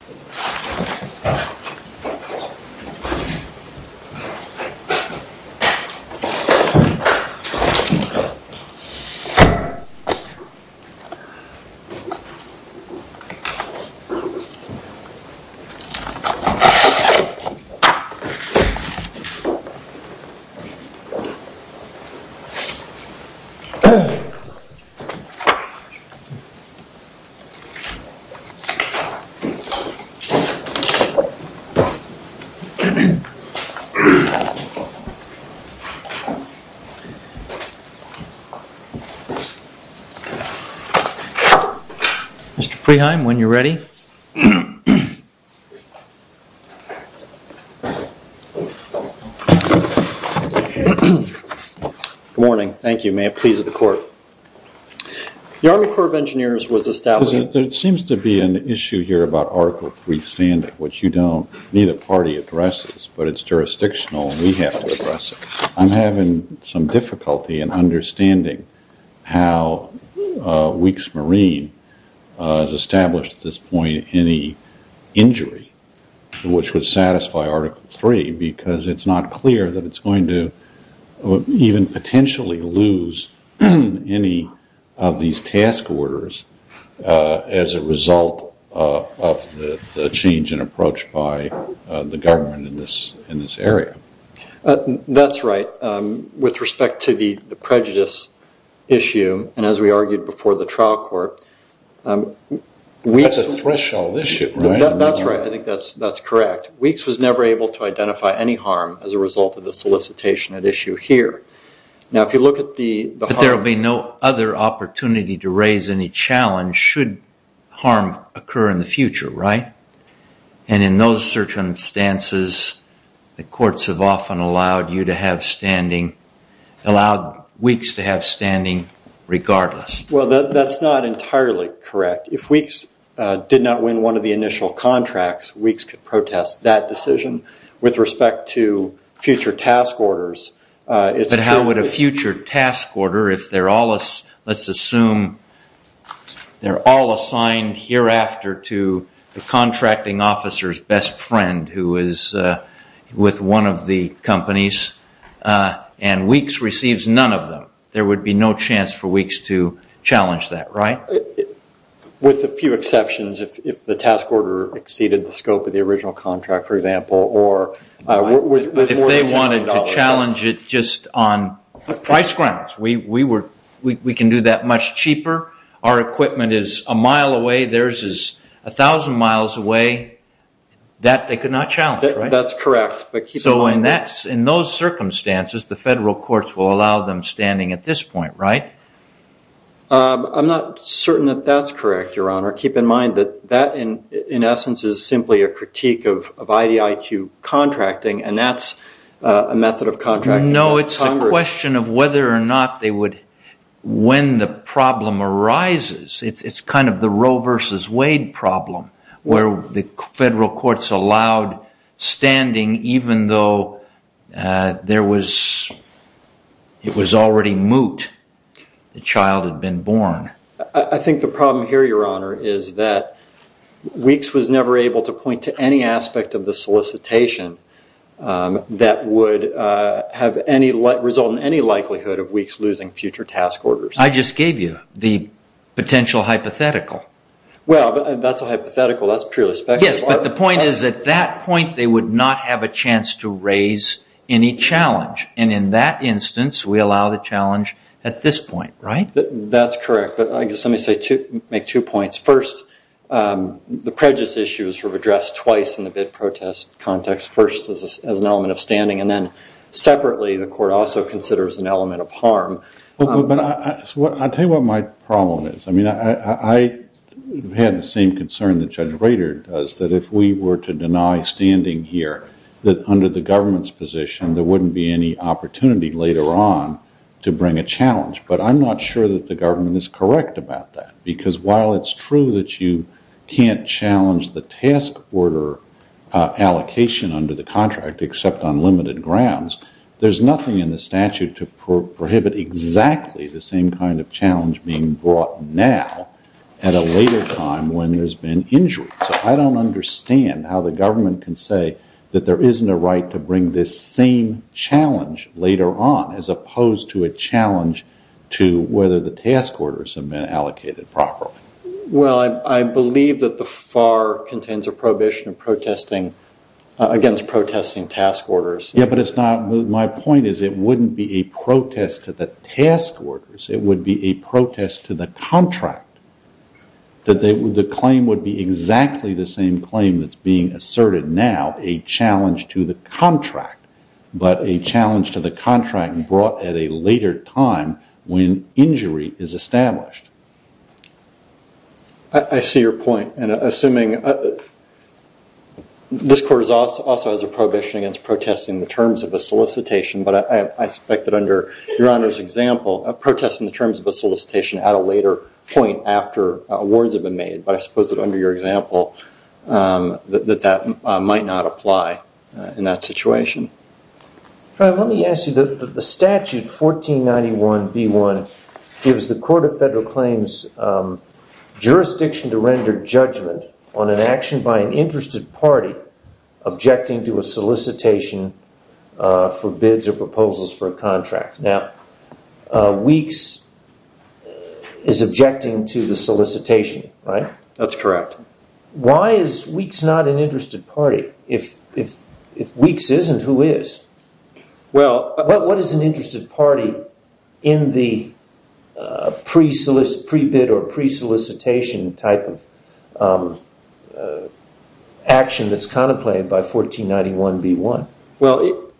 Marine v. Houston, Texas Marine v. Houston, Texas Marine v. Houston, Texas Mr. Preheim, when you're ready. Good morning. Thank you. May it please the court. The Army Corps of Engineers was established... There seems to be an issue here about Article 3 standard, which you don't, neither party addresses, but it's jurisdictional and we have to address it. I'm having some difficulty in understanding how Weeks Marine has established at this point any injury which would satisfy Article 3 because it's not clear that it's going to even potentially lose any of these task orders as a result of the change in approach by the government in this area. That's right. With respect to the prejudice issue, and as we argued before the trial court... That's a threshold issue, right? That's right. I think that's correct. Weeks was never able to identify any harm as a result of the solicitation at issue here. Now, if you look at the... But there will be no other opportunity to raise any challenge should harm occur in the future, right? And in those circumstances, the courts have often allowed Weeks to have standing regardless. Well, that's not entirely correct. If Weeks did not win one of the initial contracts, Weeks could protest that decision. With respect to future task orders, it's... But how would a future task order, if they're all... Let's assume they're all assigned hereafter to the contracting officer's best friend who is with one of the companies and Weeks receives none of them, there would be no chance for Weeks to challenge that, right? With a few exceptions, if the task order exceeded the scope of the original contract, for example, or... But if they wanted to challenge it just on price grounds, we can do that much cheaper. Our equipment is a mile away. Theirs is a thousand miles away. That they could not challenge, right? That's correct. So in those circumstances, the federal courts will allow them standing at this point, right? I'm not certain that that's correct, Your Honor. Keep in mind that that, in essence, is simply a critique of IDIQ contracting, and that's a method of contracting... No, it's a question of whether or not they would... When the problem arises, it's kind of the Roe versus Wade problem, where the federal courts allowed standing even though it was already moot, the child had been born. I think the problem here, Your Honor, is that Weeks was never able to point to any aspect of the solicitation that would result in any likelihood of Weeks losing future task orders. I just gave you the potential hypothetical. Well, that's a hypothetical. That's purely speculative. Yes, but the point is at that point, they would not have a chance to raise any challenge. And in that instance, we allow the challenge at this point, right? That's correct. But let me make two points. First, the prejudice issue was addressed twice in the bid protest context, first as an element of standing, and then separately the court also considers an element of harm. I'll tell you what my problem is. I had the same concern that Judge Rader does, that if we were to deny standing here, that under the government's position, there wouldn't be any opportunity later on to bring a challenge. But I'm not sure that the government is correct about that, because while it's true that you can't challenge the task order allocation under the contract except on limited grounds, there's nothing in the statute to prohibit exactly the same kind of challenge being brought now at a later time when there's been injury. So I don't understand how the government can say that there isn't a right to bring this same challenge later on, as opposed to a challenge to whether the task orders have been allocated properly. Well, I believe that the FAR contains a prohibition against protesting task orders. Yeah, but my point is it wouldn't be a protest to the task orders, it would be a protest to the contract. The claim would be exactly the same claim that's being asserted now, a challenge to the contract, but a challenge to the contract brought at a later time when injury is established. I see your point. Assuming this court also has a prohibition against protesting the terms of a solicitation, but I suspect that under Your Honor's example, a protest in the terms of a solicitation at a later point after awards have been made, but I suppose that under your example, that that might not apply in that situation. Let me ask you, the statute 1491b1 gives the Court of Federal Claims jurisdiction to render judgment on an action by an interested party objecting to a solicitation for bids or proposals for a contract. Now, Weeks is objecting to the solicitation, right? That's correct. Why is Weeks not an interested party if Weeks isn't who is? What is an interested party in the pre-bid or pre-solicitation type of action that's contemplated by 1491b1? Well,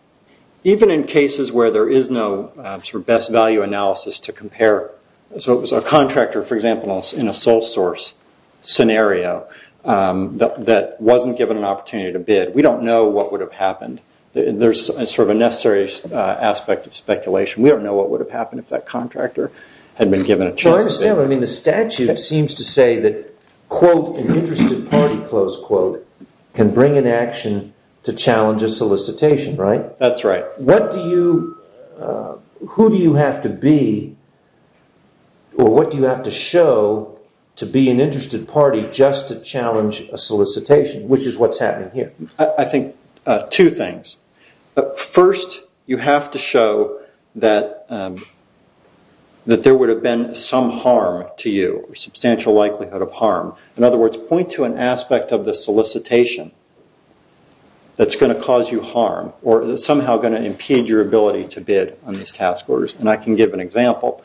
even in cases where there is no sort of best value analysis to compare, so it was a contractor, for example, in a sole source scenario that wasn't given an opportunity to bid, we don't know what would have happened. There's sort of a necessary aspect of speculation. We don't know what would have happened if that contractor had been given a chance to bid. I mean, the statute seems to say that, quote, an interested party, close quote, can bring an action to challenge a solicitation, right? That's right. Who do you have to be or what do you have to show to be an interested party just to challenge a solicitation, which is what's happening here? I think two things. First, you have to show that there would have been some harm to you or substantial likelihood of harm. In other words, point to an aspect of the solicitation that's going to cause you harm or is somehow going to impede your ability to bid on these task orders, and I can give an example.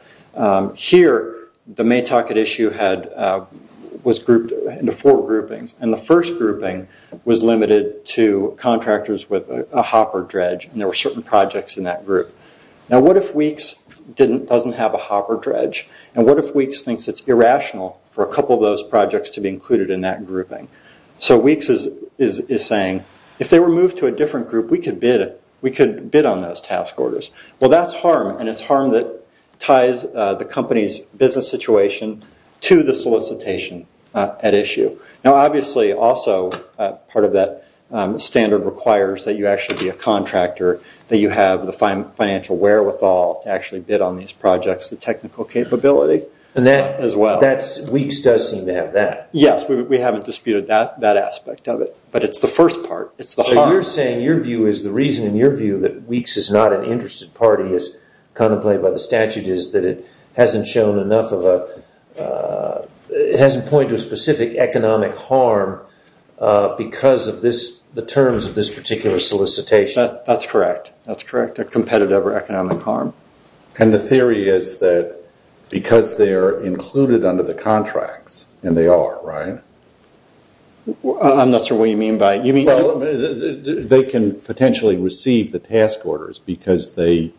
Here, the Maytocket issue was grouped into four groupings, and the first grouping was limited to contractors with a hopper dredge, and there were certain projects in that group. Now, what if Weeks doesn't have a hopper dredge, and what if Weeks thinks it's irrational for a couple of those projects to be included in that grouping? So Weeks is saying, if they were moved to a different group, we could bid on those task orders. Well, that's harm, and it's harm that ties the company's business situation to the solicitation at issue. Now, obviously, also, part of that standard requires that you actually be a contractor, that you have the financial wherewithal to actually bid on these projects, the technical capability as well. Weeks does seem to have that. Yes, we haven't disputed that aspect of it, but it's the first part. It's the harm. So you're saying your view is the reason in your view that Weeks is not an interested party as contemplated by the statute is that it hasn't shown enough of a – it hasn't pointed to a specific economic harm because of the terms of this particular solicitation. That's correct. That's correct, a competitive or economic harm. And the theory is that because they are included under the contracts, and they are, right? I'm not sure what you mean by – you mean – They can potentially receive the task orders because they're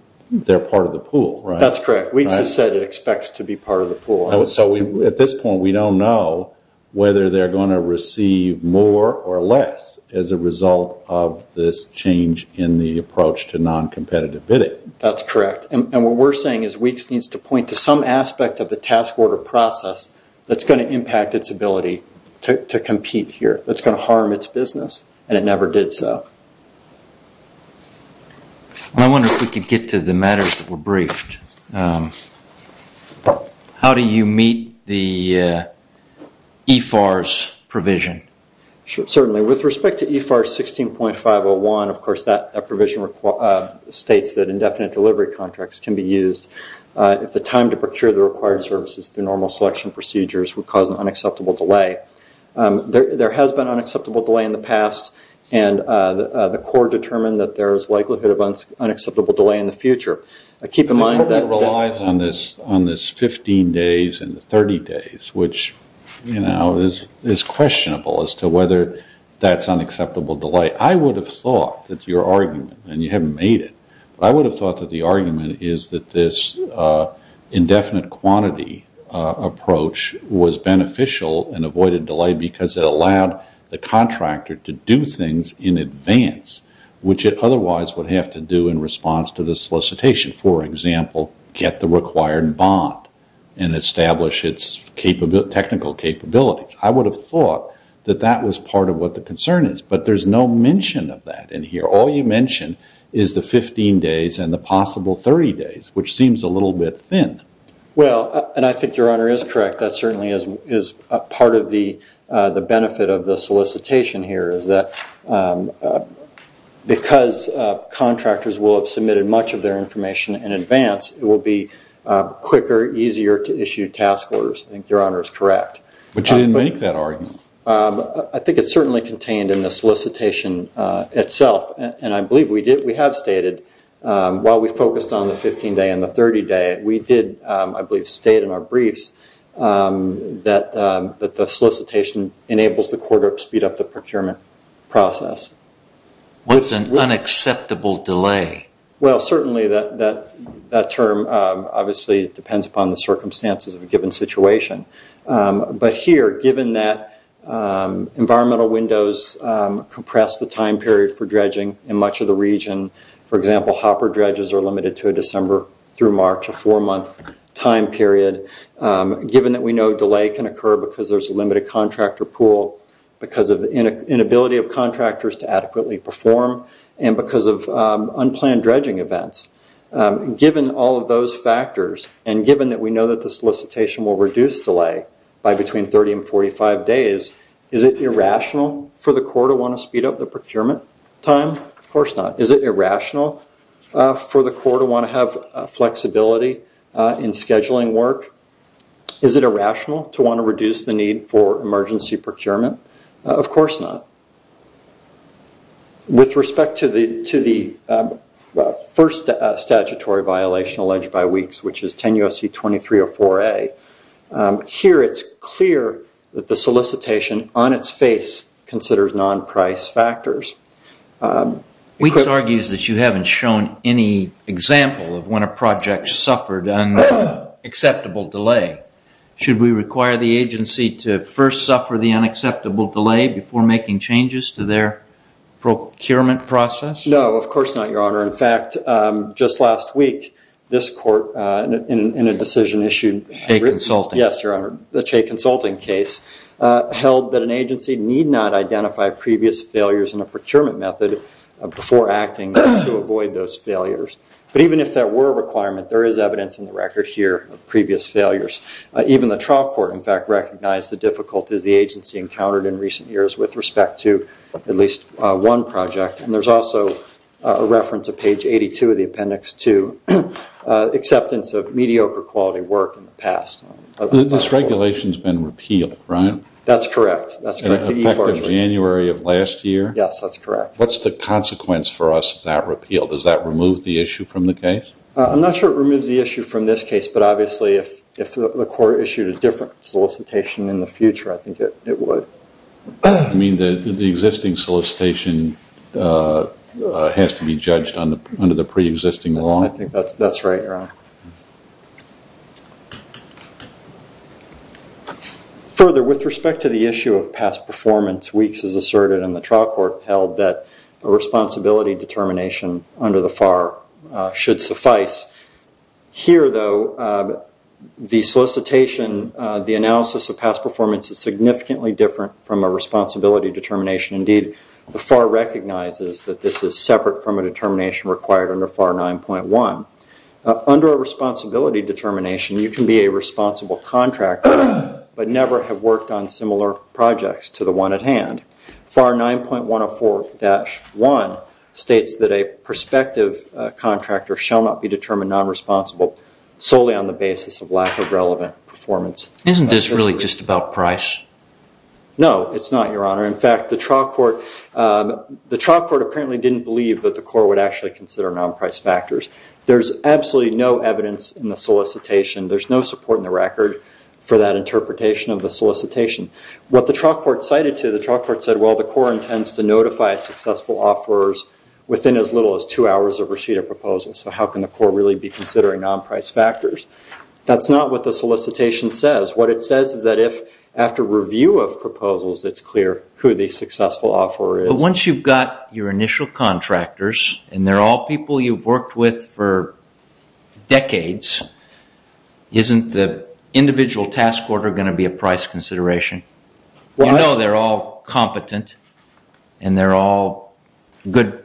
part of the pool, right? That's correct. Weeks has said it expects to be part of the pool. So at this point, we don't know whether they're going to receive more or less as a result of this change in the approach to non-competitive bidding. That's correct. And what we're saying is Weeks needs to point to some aspect of the task order process that's going to impact its ability to compete here. That's going to harm its business, and it never did so. I wonder if we could get to the matters that were briefed. How do you meet the EFAR's provision? Certainly. With respect to EFAR 16.501, of course, that provision states that indefinite delivery contracts can be used if the time to procure the required services through normal selection procedures would cause an unacceptable delay. There has been an unacceptable delay in the past, and the Corps determined that there is likelihood of an unacceptable delay in the future. Keep in mind that – It relies on this 15 days and the 30 days, which is questionable as to whether that's an unacceptable delay. I would have thought that your argument – and you haven't made it – but I would have thought that the argument is that this indefinite quantity approach was beneficial and avoided delay because it allowed the contractor to do things in advance, which it otherwise would have to do in response to the solicitation. For example, get the required bond and establish its technical capabilities. I would have thought that that was part of what the concern is, but there's no mention of that in here. All you mention is the 15 days and the possible 30 days, which seems a little bit thin. Well, and I think your Honor is correct. That certainly is part of the benefit of the solicitation here, is that because contractors will have submitted much of their information in advance, it will be quicker, easier to issue task orders. I think your Honor is correct. But you didn't make that argument. I think it's certainly contained in the solicitation itself, and I believe we have stated while we focused on the 15 day and the 30 day, we did, I believe, state in our briefs that the solicitation enables the quarter to speed up the procurement process. Well, it's an unacceptable delay. Well, certainly that term obviously depends upon the circumstances of a given situation. But here, given that environmental windows compress the time period for dredging in much of the region, for example, hopper dredges are limited to a December through March, a four-month time period, given that we know delay can occur because there's a limited contractor pool, because of the inability of contractors to adequately perform, and because of unplanned dredging events, given all of those factors and given that we know that the solicitation will reduce delay by between 30 and 45 days, is it irrational for the court to want to speed up the procurement time? Of course not. Is it irrational for the court to want to have flexibility in scheduling work? Is it irrational to want to reduce the need for emergency procurement? Of course not. With respect to the first statutory violation alleged by WEEKS, which is 10 U.S.C. 2304A, here it's clear that the solicitation on its face considers non-price factors. WEEKS argues that you haven't shown any example of when a project suffered unacceptable delay. Should we require the agency to first suffer the unacceptable delay before making changes to their procurement process? No, of course not, Your Honor. In fact, just last week, this court, in a decision issued- Che consulting. Yes, Your Honor. The Che consulting case held that an agency need not identify previous failures in a procurement method before acting to avoid those failures. But even if there were a requirement, there is evidence in the record here of previous failures. Even the trial court, in fact, recognized the difficulties the agency encountered in recent years with respect to at least one project. And there's also a reference to page 82 of the appendix to acceptance of mediocre quality work in the past. This regulation's been repealed, right? That's correct. And effective January of last year? Yes, that's correct. What's the consequence for us of that repeal? Does that remove the issue from the case? I'm not sure it removes the issue from this case, but obviously if the court issued a different solicitation in the future, I think it would. You mean the existing solicitation has to be judged under the preexisting law? I think that's right, Your Honor. Further, with respect to the issue of past performance, Weeks has asserted in the trial court held that a responsibility determination under the FAR should suffice. Here, though, the solicitation, the analysis of past performance is significantly different from a responsibility determination. Indeed, the FAR recognizes that this is separate from a determination required under FAR 9.1. Under a responsibility determination, you can be a responsible contractor, but never have worked on similar projects to the one at hand. FAR 9.104-1 states that a prospective contractor shall not be determined non-responsible solely on the basis of lack of relevant performance. Isn't this really just about price? No, it's not, Your Honor. In fact, the trial court apparently didn't believe that the court would actually consider non-price factors. There's absolutely no evidence in the solicitation. There's no support in the record for that interpretation of the solicitation. What the trial court cited to, the trial court said, well, the court intends to notify successful offerors within as little as two hours of receipt of proposal, so how can the court really be considering non-price factors? That's not what the solicitation says. What it says is that if, after review of proposals, it's clear who the successful offeror is. But once you've got your initial contractors, and they're all people you've worked with for decades, isn't the individual task order going to be a price consideration? You know they're all competent, and they're all good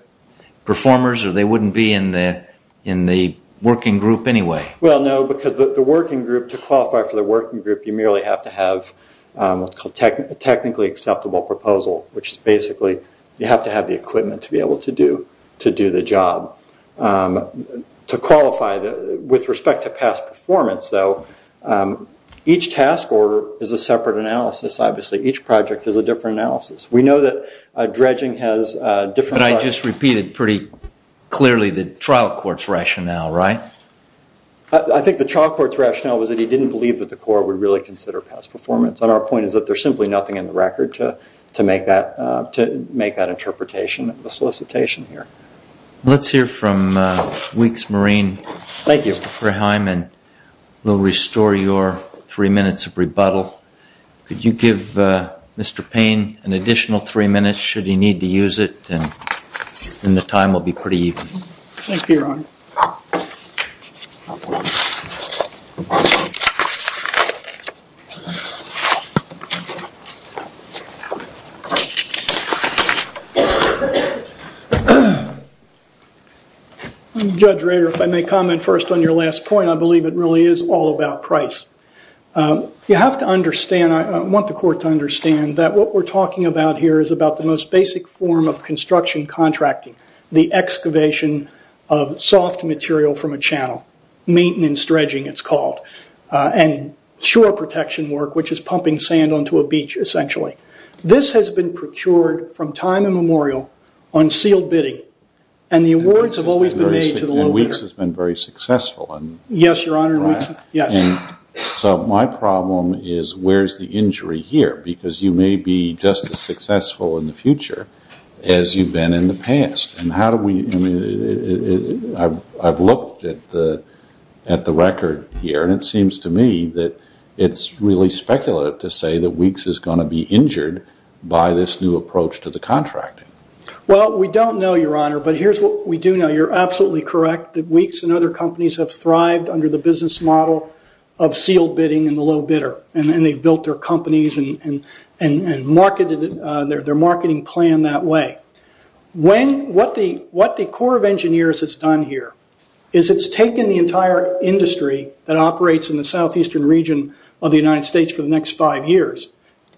performers, or they wouldn't be in the working group anyway. Well, no, because the working group, to qualify for the working group, you merely have to have a technically acceptable proposal, which is basically you have to have the equipment to be able to do the job. To qualify, with respect to past performance, though, each task order is a separate analysis, obviously. Each project is a different analysis. We know that dredging has different... But I just repeated pretty clearly the trial court's rationale, right? I think the trial court's rationale was that he didn't believe that the court would really consider past performance, and our point is that there's simply nothing in the record to make that interpretation of the solicitation here. Let's hear from Weeks Marine, Mr. Freheim, and we'll restore your three minutes of rebuttal. Could you give Mr. Payne an additional three minutes, should he need to use it? Then the time will be pretty even. Thank you, Your Honor. Judge Rader, if I may comment first on your last point, I believe it really is all about price. You have to understand, I want the court to understand, that what we're talking about here is about the most basic form of construction contracting, the excavation of soft material from a channel, maintenance dredging, it's called, and shore protection work, which is pumping sand onto a beach, essentially. This has been procured from time immemorial on sealed bidding, and the awards have always been made to the low bidder. Weeks has been very successful. Yes, Your Honor. So my problem is, where's the injury here? Because you may be just as successful in the future as you've been in the past. I've looked at the record here, and it seems to me that it's really speculative to say that Weeks is going to be injured by this new approach to the contracting. Well, we don't know, Your Honor, but here's what we do know. You're absolutely correct that Weeks and other companies have thrived under the business model of sealed bidding and the low bidder, and they've built their companies and their marketing plan that way. What the Corps of Engineers has done here is it's taken the entire industry that operates in the southeastern region of the United States for the next five years,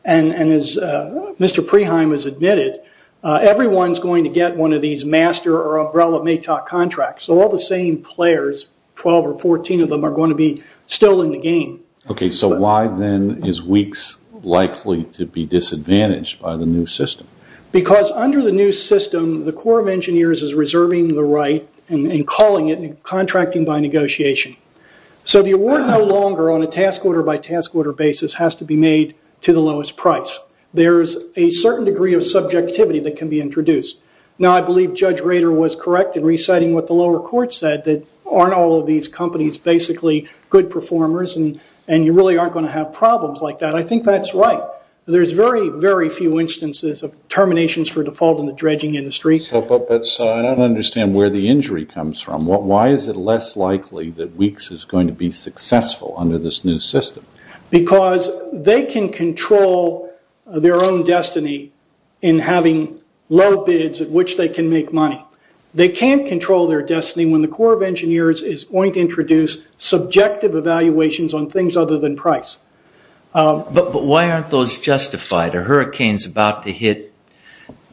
and as Mr. Preheim has admitted, everyone's going to get one of these master or umbrella MATOC contracts. All the same players, 12 or 14 of them, are going to be still in the game. Okay, so why then is Weeks likely to be disadvantaged by the new system? Because under the new system, the Corps of Engineers is reserving the right and calling it contracting by negotiation. So the award no longer on a task order by task order basis has to be made to the lowest price. There's a certain degree of subjectivity that can be introduced. Now, I believe Judge Rader was correct in reciting what the lower court said, that aren't all of these companies basically good performers, and you really aren't going to have problems like that. I think that's right. There's very, very few instances of terminations for default in the dredging industry. I don't understand where the injury comes from. Why is it less likely that Weeks is going to be successful under this new system? Because they can control their own destiny in having low bids at which they can make money. They can't control their destiny when the Corps of Engineers is going to introduce subjective evaluations on things other than price. But why aren't those justified? A hurricane is about to hit.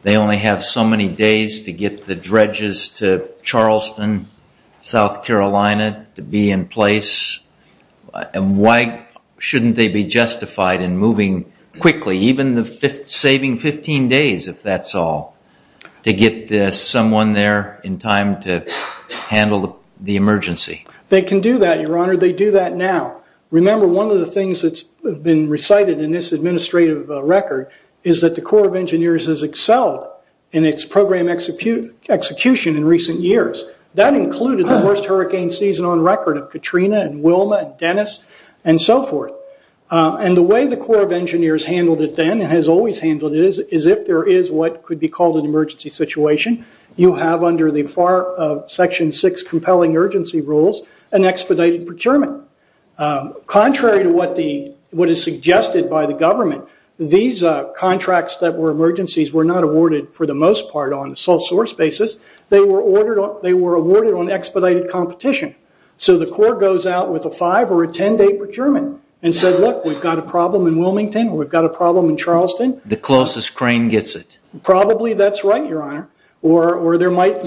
They only have so many days to get the dredges to Charleston, South Carolina, to be in place. And why shouldn't they be justified in moving quickly, even saving 15 days if that's all, to get someone there in time to handle the emergency? They can do that, Your Honor. They do that now. Remember, one of the things that's been recited in this administrative record is that the Corps of Engineers has excelled in its program execution in recent years. That included the worst hurricane season on record of Katrina and Wilma and Dennis and so forth. The way the Corps of Engineers handled it then and has always handled it is if there is what could be called an emergency situation, you have under the Section 6 compelling urgency rules an expedited procurement. Contrary to what is suggested by the government, these contracts that were emergencies were not awarded for the most part on sole source basis. They were awarded on expedited competition. So the Corps goes out with a five or a ten-day procurement and said, look, we've got a problem in Wilmington or we've got a problem in Charleston. The closest crane gets it. Probably that's right, Your Honor.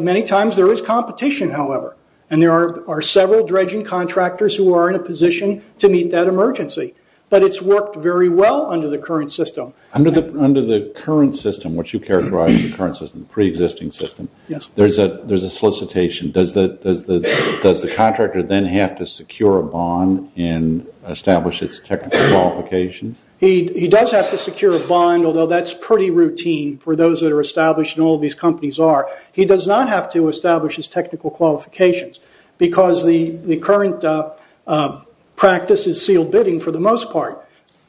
Many times there is competition, however, and there are several dredging contractors who are in a position to meet that emergency. But it's worked very well under the current system. Under the current system, what you characterize as the current system, pre-existing system, there's a solicitation. Does the contractor then have to secure a bond and establish its technical qualifications? He does have to secure a bond, although that's pretty routine for those that are established and all of these companies are. He does not have to establish his technical qualifications because the current practice is sealed bidding for the most part.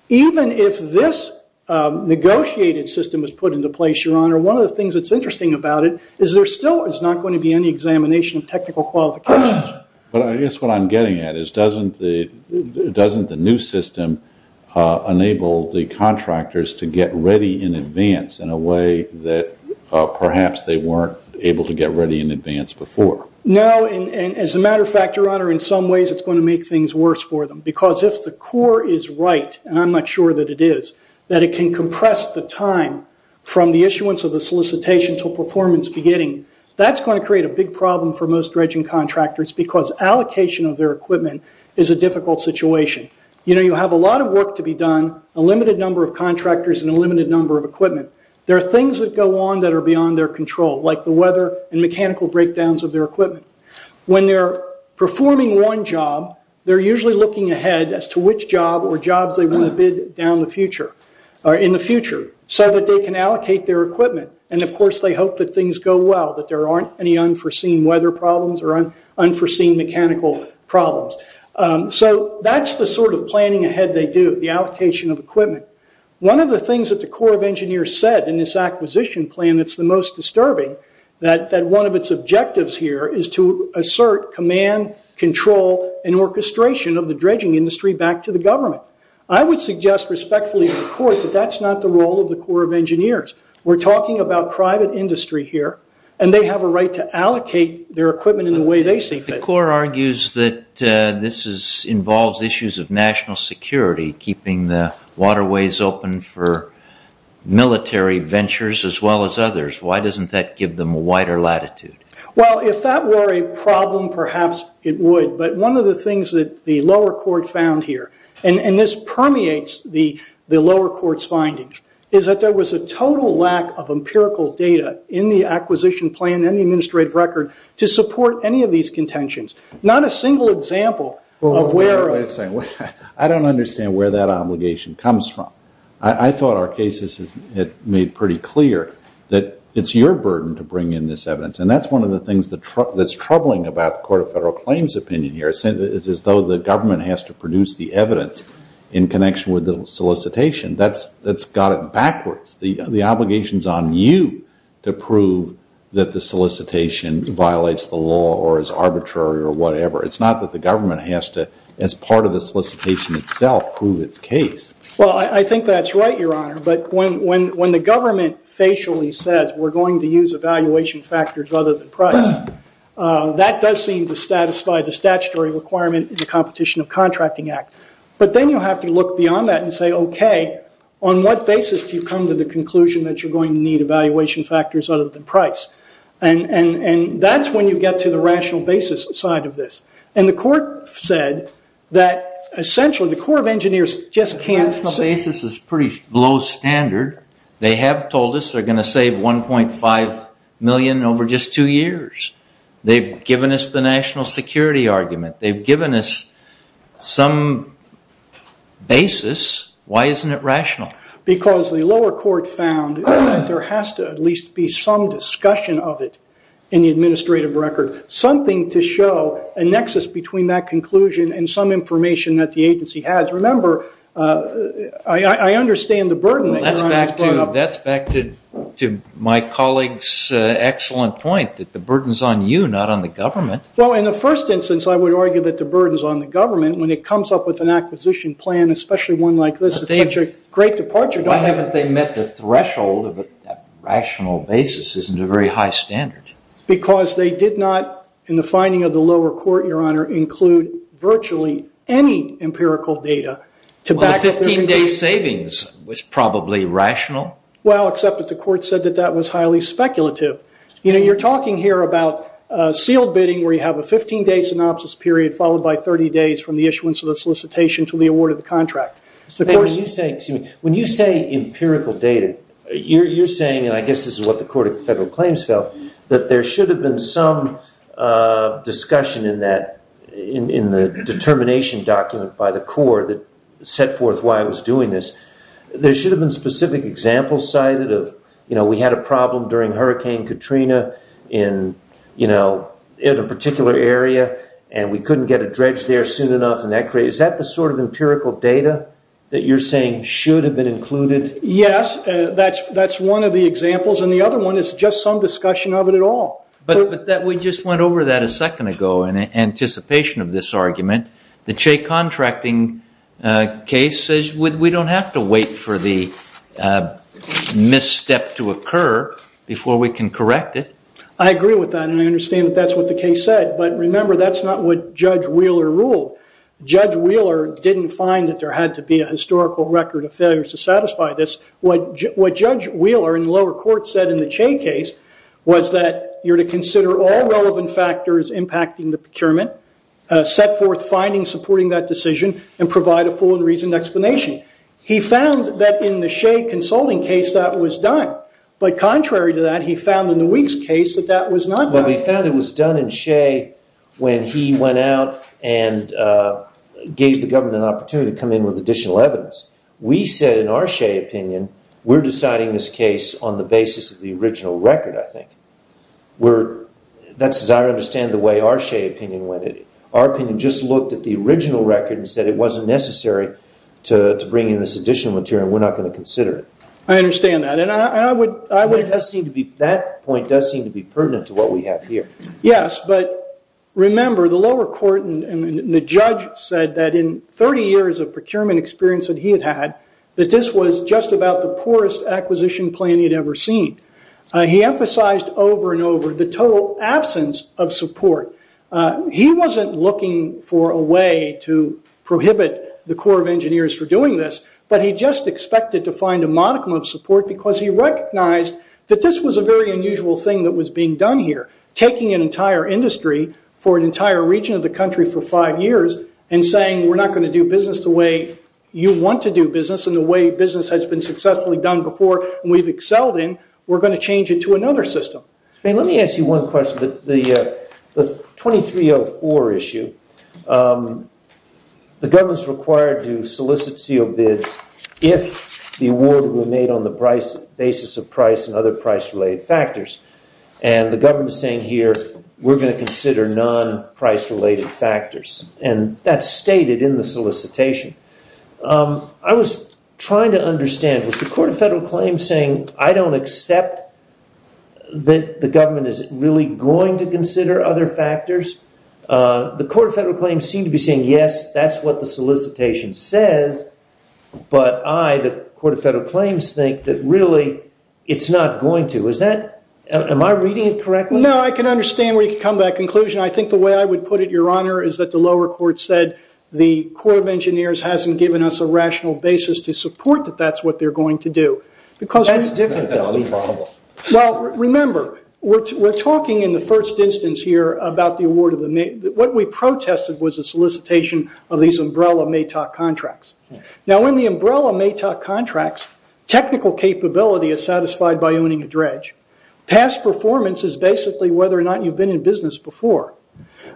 Even if this negotiated system is put into place, Your Honor, one of the things that's interesting about it is there still is not going to be any examination of technical qualifications. I guess what I'm getting at is doesn't the new system enable the contractors to get ready in advance in a way that perhaps they weren't able to get ready in advance before? No. As a matter of fact, Your Honor, in some ways it's going to make things worse for them because if the core is right, and I'm not sure that it is, that it can compress the time from the issuance of the solicitation to performance beginning, that's going to create a big problem for most dredging contractors because allocation of their equipment is a difficult situation. You have a lot of work to be done, a limited number of contractors, and a limited number of equipment. There are things that go on that are beyond their control, like the weather and mechanical breakdowns of their equipment. When they're performing one job, they're usually looking ahead as to which job or jobs they want to bid in the future so that they can allocate their equipment. Of course, they hope that things go well, that there aren't any unforeseen weather problems or unforeseen mechanical problems. That's the sort of planning ahead they do, the allocation of equipment. One of the things that the Corps of Engineers said in this acquisition plan that's the most disturbing, that one of its objectives here is to assert command, control, and orchestration of the dredging industry back to the government. I would suggest respectfully to the Court that that's not the role of the Corps of Engineers. We're talking about private industry here, and they have a right to allocate their equipment in the way they see fit. The Corps argues that this involves issues of national security, keeping the waterways open for military ventures as well as others. Why doesn't that give them a wider latitude? Well, if that were a problem, perhaps it would. But one of the things that the lower court found here, and this permeates the lower court's findings, is that there was a total lack of empirical data in the acquisition plan and the administrative record to support any of these contentions. Not a single example of where... Wait a second. I don't understand where that obligation comes from. I thought our cases made pretty clear that it's your burden to bring in this evidence, and that's one of the things that's troubling about the Court of Federal Claims' opinion here. It's as though the government has to produce the evidence in connection with the solicitation. That's got it backwards. The obligation's on you to prove that the solicitation violates the law or is arbitrary or whatever. It's not that the government has to, as part of the solicitation itself, prove its case. Well, I think that's right, Your Honor. But when the government facially says, we're going to use evaluation factors other than price, that does seem to satisfy the statutory requirement in the Competition of Contracting Act. But then you have to look beyond that and say, okay, on what basis do you come to the conclusion that you're going to need evaluation factors other than price? And that's when you get to the rational basis side of this. And the Court said that essentially the Corps of Engineers just can't... The rational basis is pretty low standard. They have told us they're going to save $1.5 million over just two years. They've given us the national security argument. They've given us some basis. Why isn't it rational? Because the lower court found that there has to at least be some discussion of it in the administrative record, something to show a nexus between that conclusion and some information that the agency has. Remember, I understand the burden that Your Honor has brought up. That's back to my colleague's excellent point, that the burden's on you, not on the government. Well, in the first instance, I would argue that the burden's on the government when it comes up with an acquisition plan, especially one like this. It's such a great departure. Why haven't they met the threshold of a rational basis? Isn't it a very high standard? Because they did not, in the finding of the lower court, Your Honor, include virtually any empirical data. Well, the 15-day savings was probably rational. Well, except that the court said that that was highly speculative. You're talking here about sealed bidding where you have a 15-day synopsis period followed by 30 days from the issuance of the solicitation to the award of the contract. When you say empirical data, you're saying, and I guess this is what the Court of Federal Claims felt, that there should have been some discussion in the determination document by the court that set forth why it was doing this. There should have been specific examples cited of we had a problem during Hurricane Katrina in a particular area and we couldn't get a dredge there soon enough. Is that the sort of empirical data that you're saying should have been included? Yes, that's one of the examples, and the other one is just some discussion of it at all. But we just went over that a second ago in anticipation of this argument. The Che contracting case says we don't have to wait for the misstep to occur before we can correct it. I agree with that, and I understand that that's what the case said. But remember, that's not what Judge Wheeler ruled. Judge Wheeler didn't find that there had to be a historical record of failures to satisfy this. What Judge Wheeler in the lower court said in the Che case was that you're to consider all relevant factors impacting the procurement, set forth findings supporting that decision, and provide a full and reasoned explanation. He found that in the Che consulting case that was done. But contrary to that, he found in the Weeks case that that was not done. But he found it was done in Che when he went out and gave the government an opportunity to come in with additional evidence. We said in our Che opinion, we're deciding this case on the basis of the original record, I think. That's as I understand the way our Che opinion went. Our opinion just looked at the original record and said it wasn't necessary to bring in this additional material, and we're not going to consider it. I understand that. That point does seem to be pertinent to what we have here. Yes, but remember, the lower court and the judge said that in 30 years of procurement experience that he had had, that this was just about the poorest acquisition plan he had ever seen. He emphasized over and over the total absence of support. He wasn't looking for a way to prohibit the Corps of Engineers from doing this, but he just expected to find a modicum of support because he recognized that this was a very unusual thing that was being done here. Taking an entire industry for an entire region of the country for five years, and saying we're not going to do business the way you want to do business, and the way business has been successfully done before and we've excelled in, we're going to change it to another system. Let me ask you one question. The 2304 issue, the government is required to solicit CO bids if the award were made on the basis of price and other price-related factors. The government is saying here we're going to consider non-price-related factors, and that's stated in the solicitation. I was trying to understand, was the Court of Federal Claims saying I don't accept that the government is really going to consider other factors? The Court of Federal Claims seemed to be saying yes, that's what the solicitation says, but I, the Court of Federal Claims, think that really it's not going to. Am I reading it correctly? No, I can understand where you come to that conclusion. I think the way I would put it, Your Honor, is that the lower court said the Corps of Engineers hasn't given us a rational basis to support that that's what they're going to do. That's difficult. Remember, we're talking in the first instance here about the award. What we protested was the solicitation of these umbrella MATOC contracts. In the umbrella MATOC contracts, technical capability is satisfied by owning a dredge. Past performance is basically whether or not you've been in business before.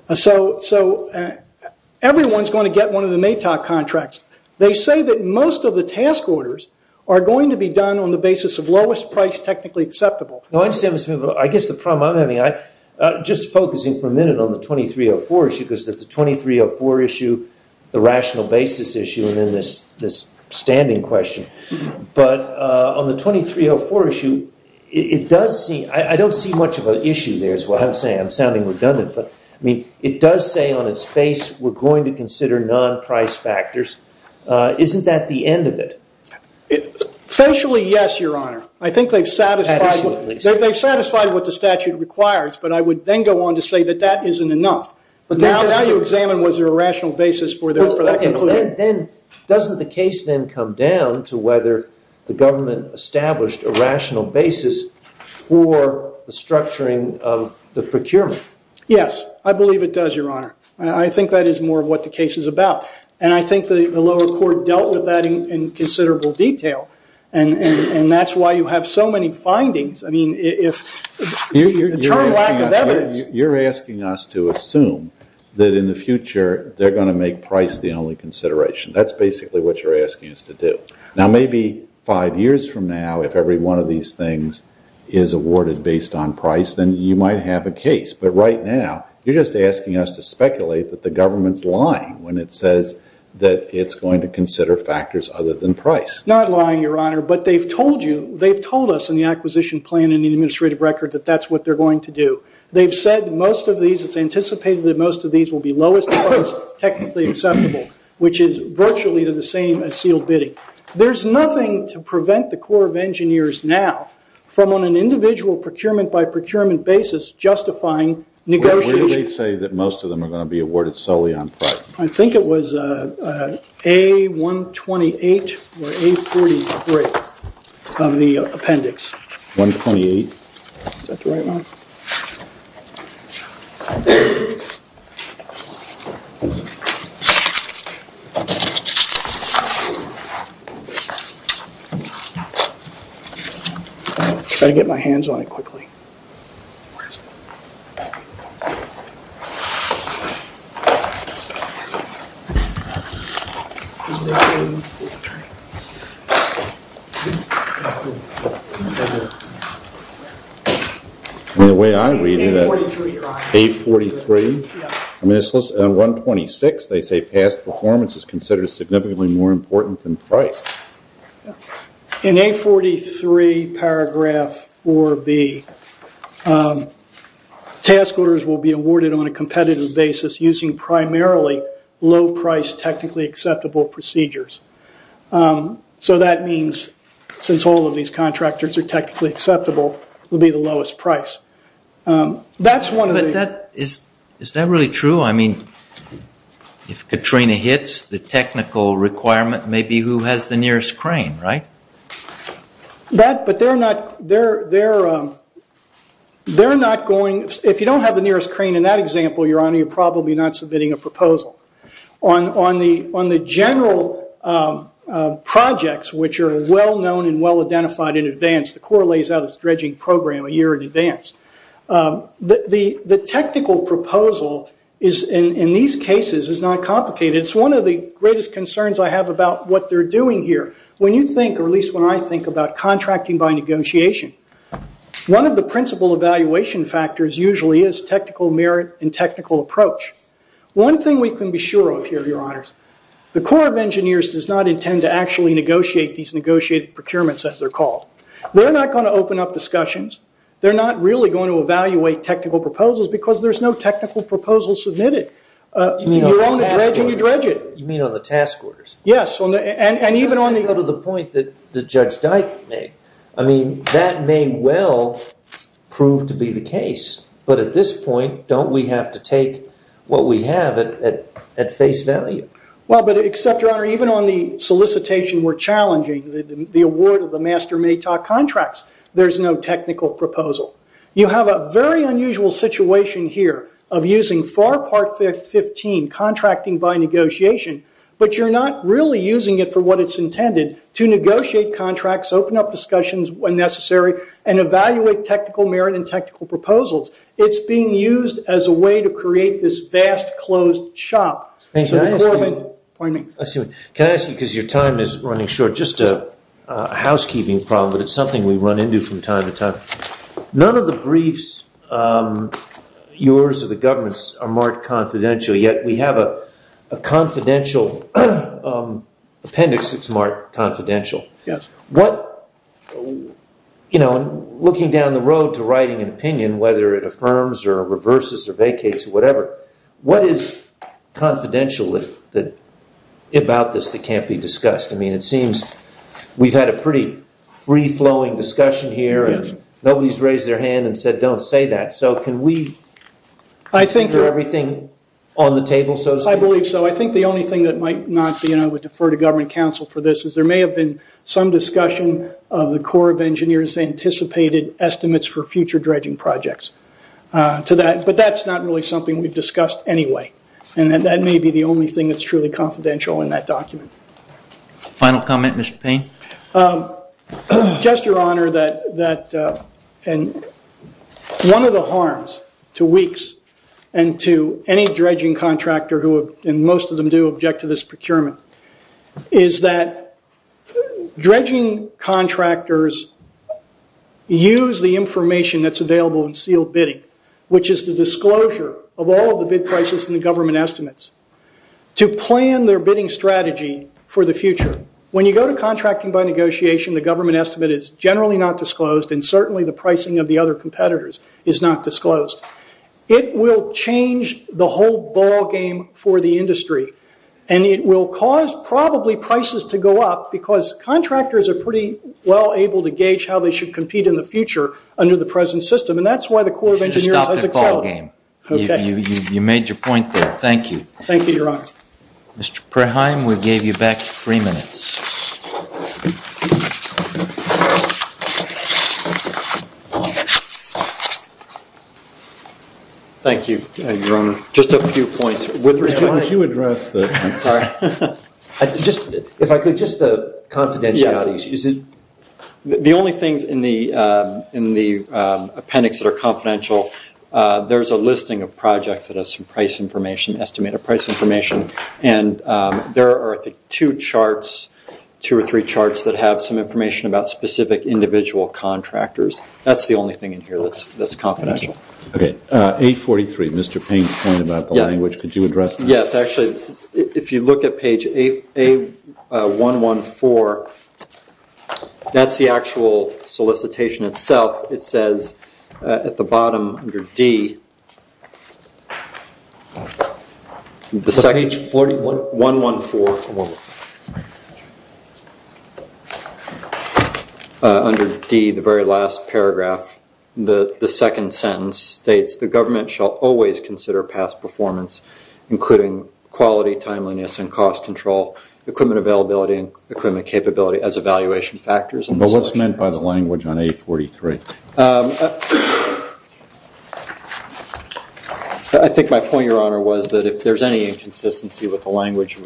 Everyone's going to get one of the MATOC contracts. They say that most of the task orders are going to be done on the basis of lowest price technically acceptable. I guess the problem I'm having, just focusing for a minute on the 2304 issue, because there's the 2304 issue, the rational basis issue, and then this standing question. But on the 2304 issue, I don't see much of an issue there is what I'm saying. I'm sounding redundant. But it does say on its face we're going to consider non-price factors. Isn't that the end of it? Facially, yes, Your Honor. I think they've satisfied what the statute requires. But I would then go on to say that that isn't enough. Now you examine was there a rational basis for that conclusion. Doesn't the case then come down to whether the government established a rational basis for the structuring of the procurement? Yes. I believe it does, Your Honor. I think that is more of what the case is about. And I think the lower court dealt with that in considerable detail. And that's why you have so many findings. You're asking us to assume that in the future they're going to make price the only consideration. That's basically what you're asking us to do. Now maybe five years from now, if every one of these things is awarded based on price, then you might have a case. But right now, you're just asking us to speculate that the government's lying when it says that it's going to consider factors other than price. Not lying, Your Honor. But they've told you, they've told us in the acquisition plan and the administrative record that that's what they're going to do. They've said most of these, it's anticipated that most of these will be lowest price, technically acceptable, which is virtually to the same as sealed bidding. There's nothing to prevent the Corps of Engineers now from on an individual procurement by procurement basis justifying negotiations. What did they say that most of them are going to be awarded solely on price? I think it was A-128 or A-43 of the appendix. 128? Is that the right one? I've got to get my hands on it quickly. A-43. The way I'm reading it, A-43? On 126, they say past performance is considered significantly more important than price. In A-43 paragraph 4B, task orders will be awarded on a competitive basis using primarily low price technically acceptable procedures. So that means since all of these contractors are technically acceptable, it will be the lowest price. Is that really true? If Katrina hits, the technical requirement may be who has the nearest crane, right? If you don't have the nearest crane in that example, Your Honor, you're probably not submitting a proposal. On the general projects, which are well known and well identified in advance, the Corps lays out its dredging program a year in advance. The technical proposal in these cases is not complicated. It's one of the greatest concerns I have about what they're doing here. When you think, or at least when I think, about contracting by negotiation, one of the principal evaluation factors usually is technical merit and technical approach. One thing we can be sure of here, Your Honors, the Corps of Engineers does not intend to actually negotiate these negotiated procurements as they're called. They're not going to open up discussions. They're not really going to evaluate technical proposals because there's no technical proposal submitted. You're on the dredging, you dredge it. You mean on the task orders? Yes, and even on the- To go to the point that Judge Dyke made, that may well prove to be the case, but at this point, don't we have to take what we have at face value? Well, but except, Your Honor, even on the solicitation we're challenging, the award of the master MATOC contracts, there's no technical proposal. You have a very unusual situation here of using FAR Part 15, contracting by negotiation, but you're not really using it for what it's intended, to negotiate contracts, open up discussions when necessary, and evaluate technical merit and technical proposals. It's being used as a way to create this vast, closed shop. Can I ask you, because your time is running short, just a housekeeping problem, but it's something we run into from time to time. None of the briefs, yours or the government's, are marked confidential, yet we have a confidential appendix that's marked confidential. Looking down the road to writing an opinion, whether it affirms or reverses or vacates or whatever, what is confidential about this that can't be discussed? I mean, it seems we've had a pretty free-flowing discussion here, and nobody's raised their hand and said, don't say that. So can we consider everything on the table so to speak? I believe so. I think the only thing that might not be, and I would defer to government counsel for this, is there may have been some discussion of the Corps of Engineers' anticipated estimates for future dredging projects. But that's not really something we've discussed anyway, and that may be the only thing that's truly confidential in that document. Final comment, Mr. Payne? Just, Your Honor, one of the harms to WEEKS and to any dredging contractor, and most of them do object to this procurement, is that dredging contractors use the information that's available in sealed bidding, which is the disclosure of all of the bid prices in the government estimates, to plan their bidding strategy for the future. When you go to contracting by negotiation, the government estimate is generally not disclosed, and certainly the pricing of the other competitors is not disclosed. It will change the whole ballgame for the industry, and it will cause probably prices to go up, because contractors are pretty well able to gauge how they should compete in the future under the present system, and that's why the Corps of Engineers has accelerated. You made your point there. Thank you. Thank you, Your Honor. Mr. Praheim, we gave you back three minutes. Thank you, Your Honor. Just a few points. Could you address the confidentialities? The only things in the appendix that are confidential, there's a listing of projects that have some estimated price information, and there are two or three charts that have some information about specific individual contractors. That's the only thing in here that's confidential. A43, Mr. Payne's point about the language. Could you address that? Yes. Actually, if you look at page A114, that's the actual solicitation itself. It says at the bottom under D, the second sentence states, the government shall always consider past performance, including quality, timeliness, and cost control, equipment availability, and equipment capability as evaluation factors. What's meant by the language on A43? I think my point, Your Honor, was that if there's any inconsistency with the language,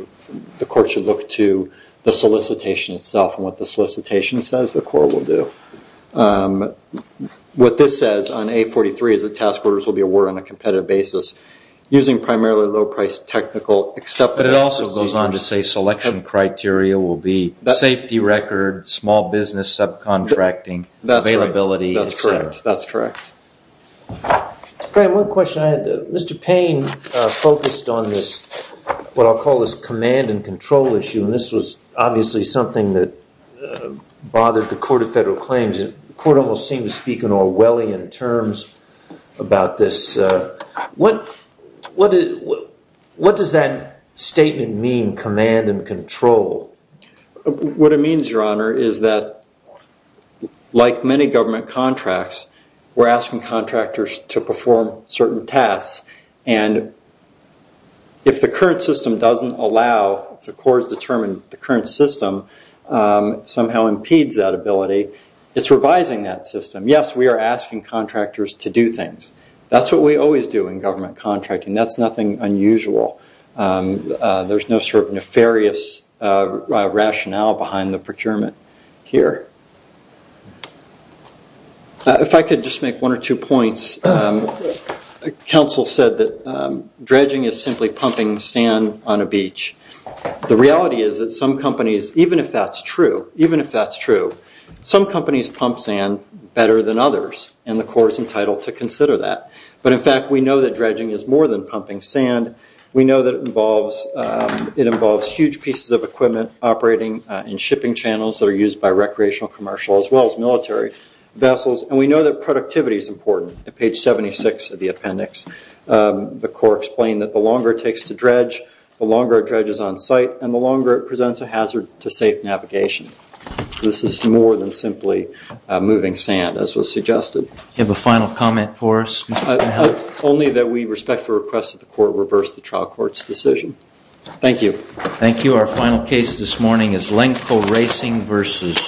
the court should look to the solicitation itself, and what the solicitation says the court will do. What this says on A43 is that task orders will be awarded on a competitive basis, using primarily low-priced technical, But it also goes on to say selection criteria will be safety record, small business subcontracting, availability, et cetera. That's correct. Graham, one question I had. Mr. Payne focused on this, what I'll call this command and control issue, and this was obviously something that bothered the Court of Federal Claims. The Court almost seemed to speak in Orwellian terms about this. What does that statement mean, command and control? What it means, Your Honor, is that, like many government contracts, we're asking contractors to perform certain tasks, and if the current system doesn't allow, if the court has determined the current system somehow impedes that ability, it's revising that system. Yes, we are asking contractors to do things. That's what we always do in government contracting. That's nothing unusual. There's no sort of nefarious rationale behind the procurement here. If I could just make one or two points. Counsel said that dredging is simply pumping sand on a beach. The reality is that some companies, even if that's true, some companies pump sand better than others, and the court is entitled to consider that. But, in fact, we know that dredging is more than pumping sand. We know that it involves huge pieces of equipment operating in shipping channels that are used by recreational, commercial, as well as military vessels, and we know that productivity is important. At page 76 of the appendix, the court explained that the longer it takes to dredge, the longer a dredge is on site, and the longer it presents a hazard to safe navigation. This is more than simply moving sand, as was suggested. Do you have a final comment for us? Only that we respect the request of the court to reverse the trial court's decision. Thank you. Thank you. Our final case this morning is Lenko Racing versus...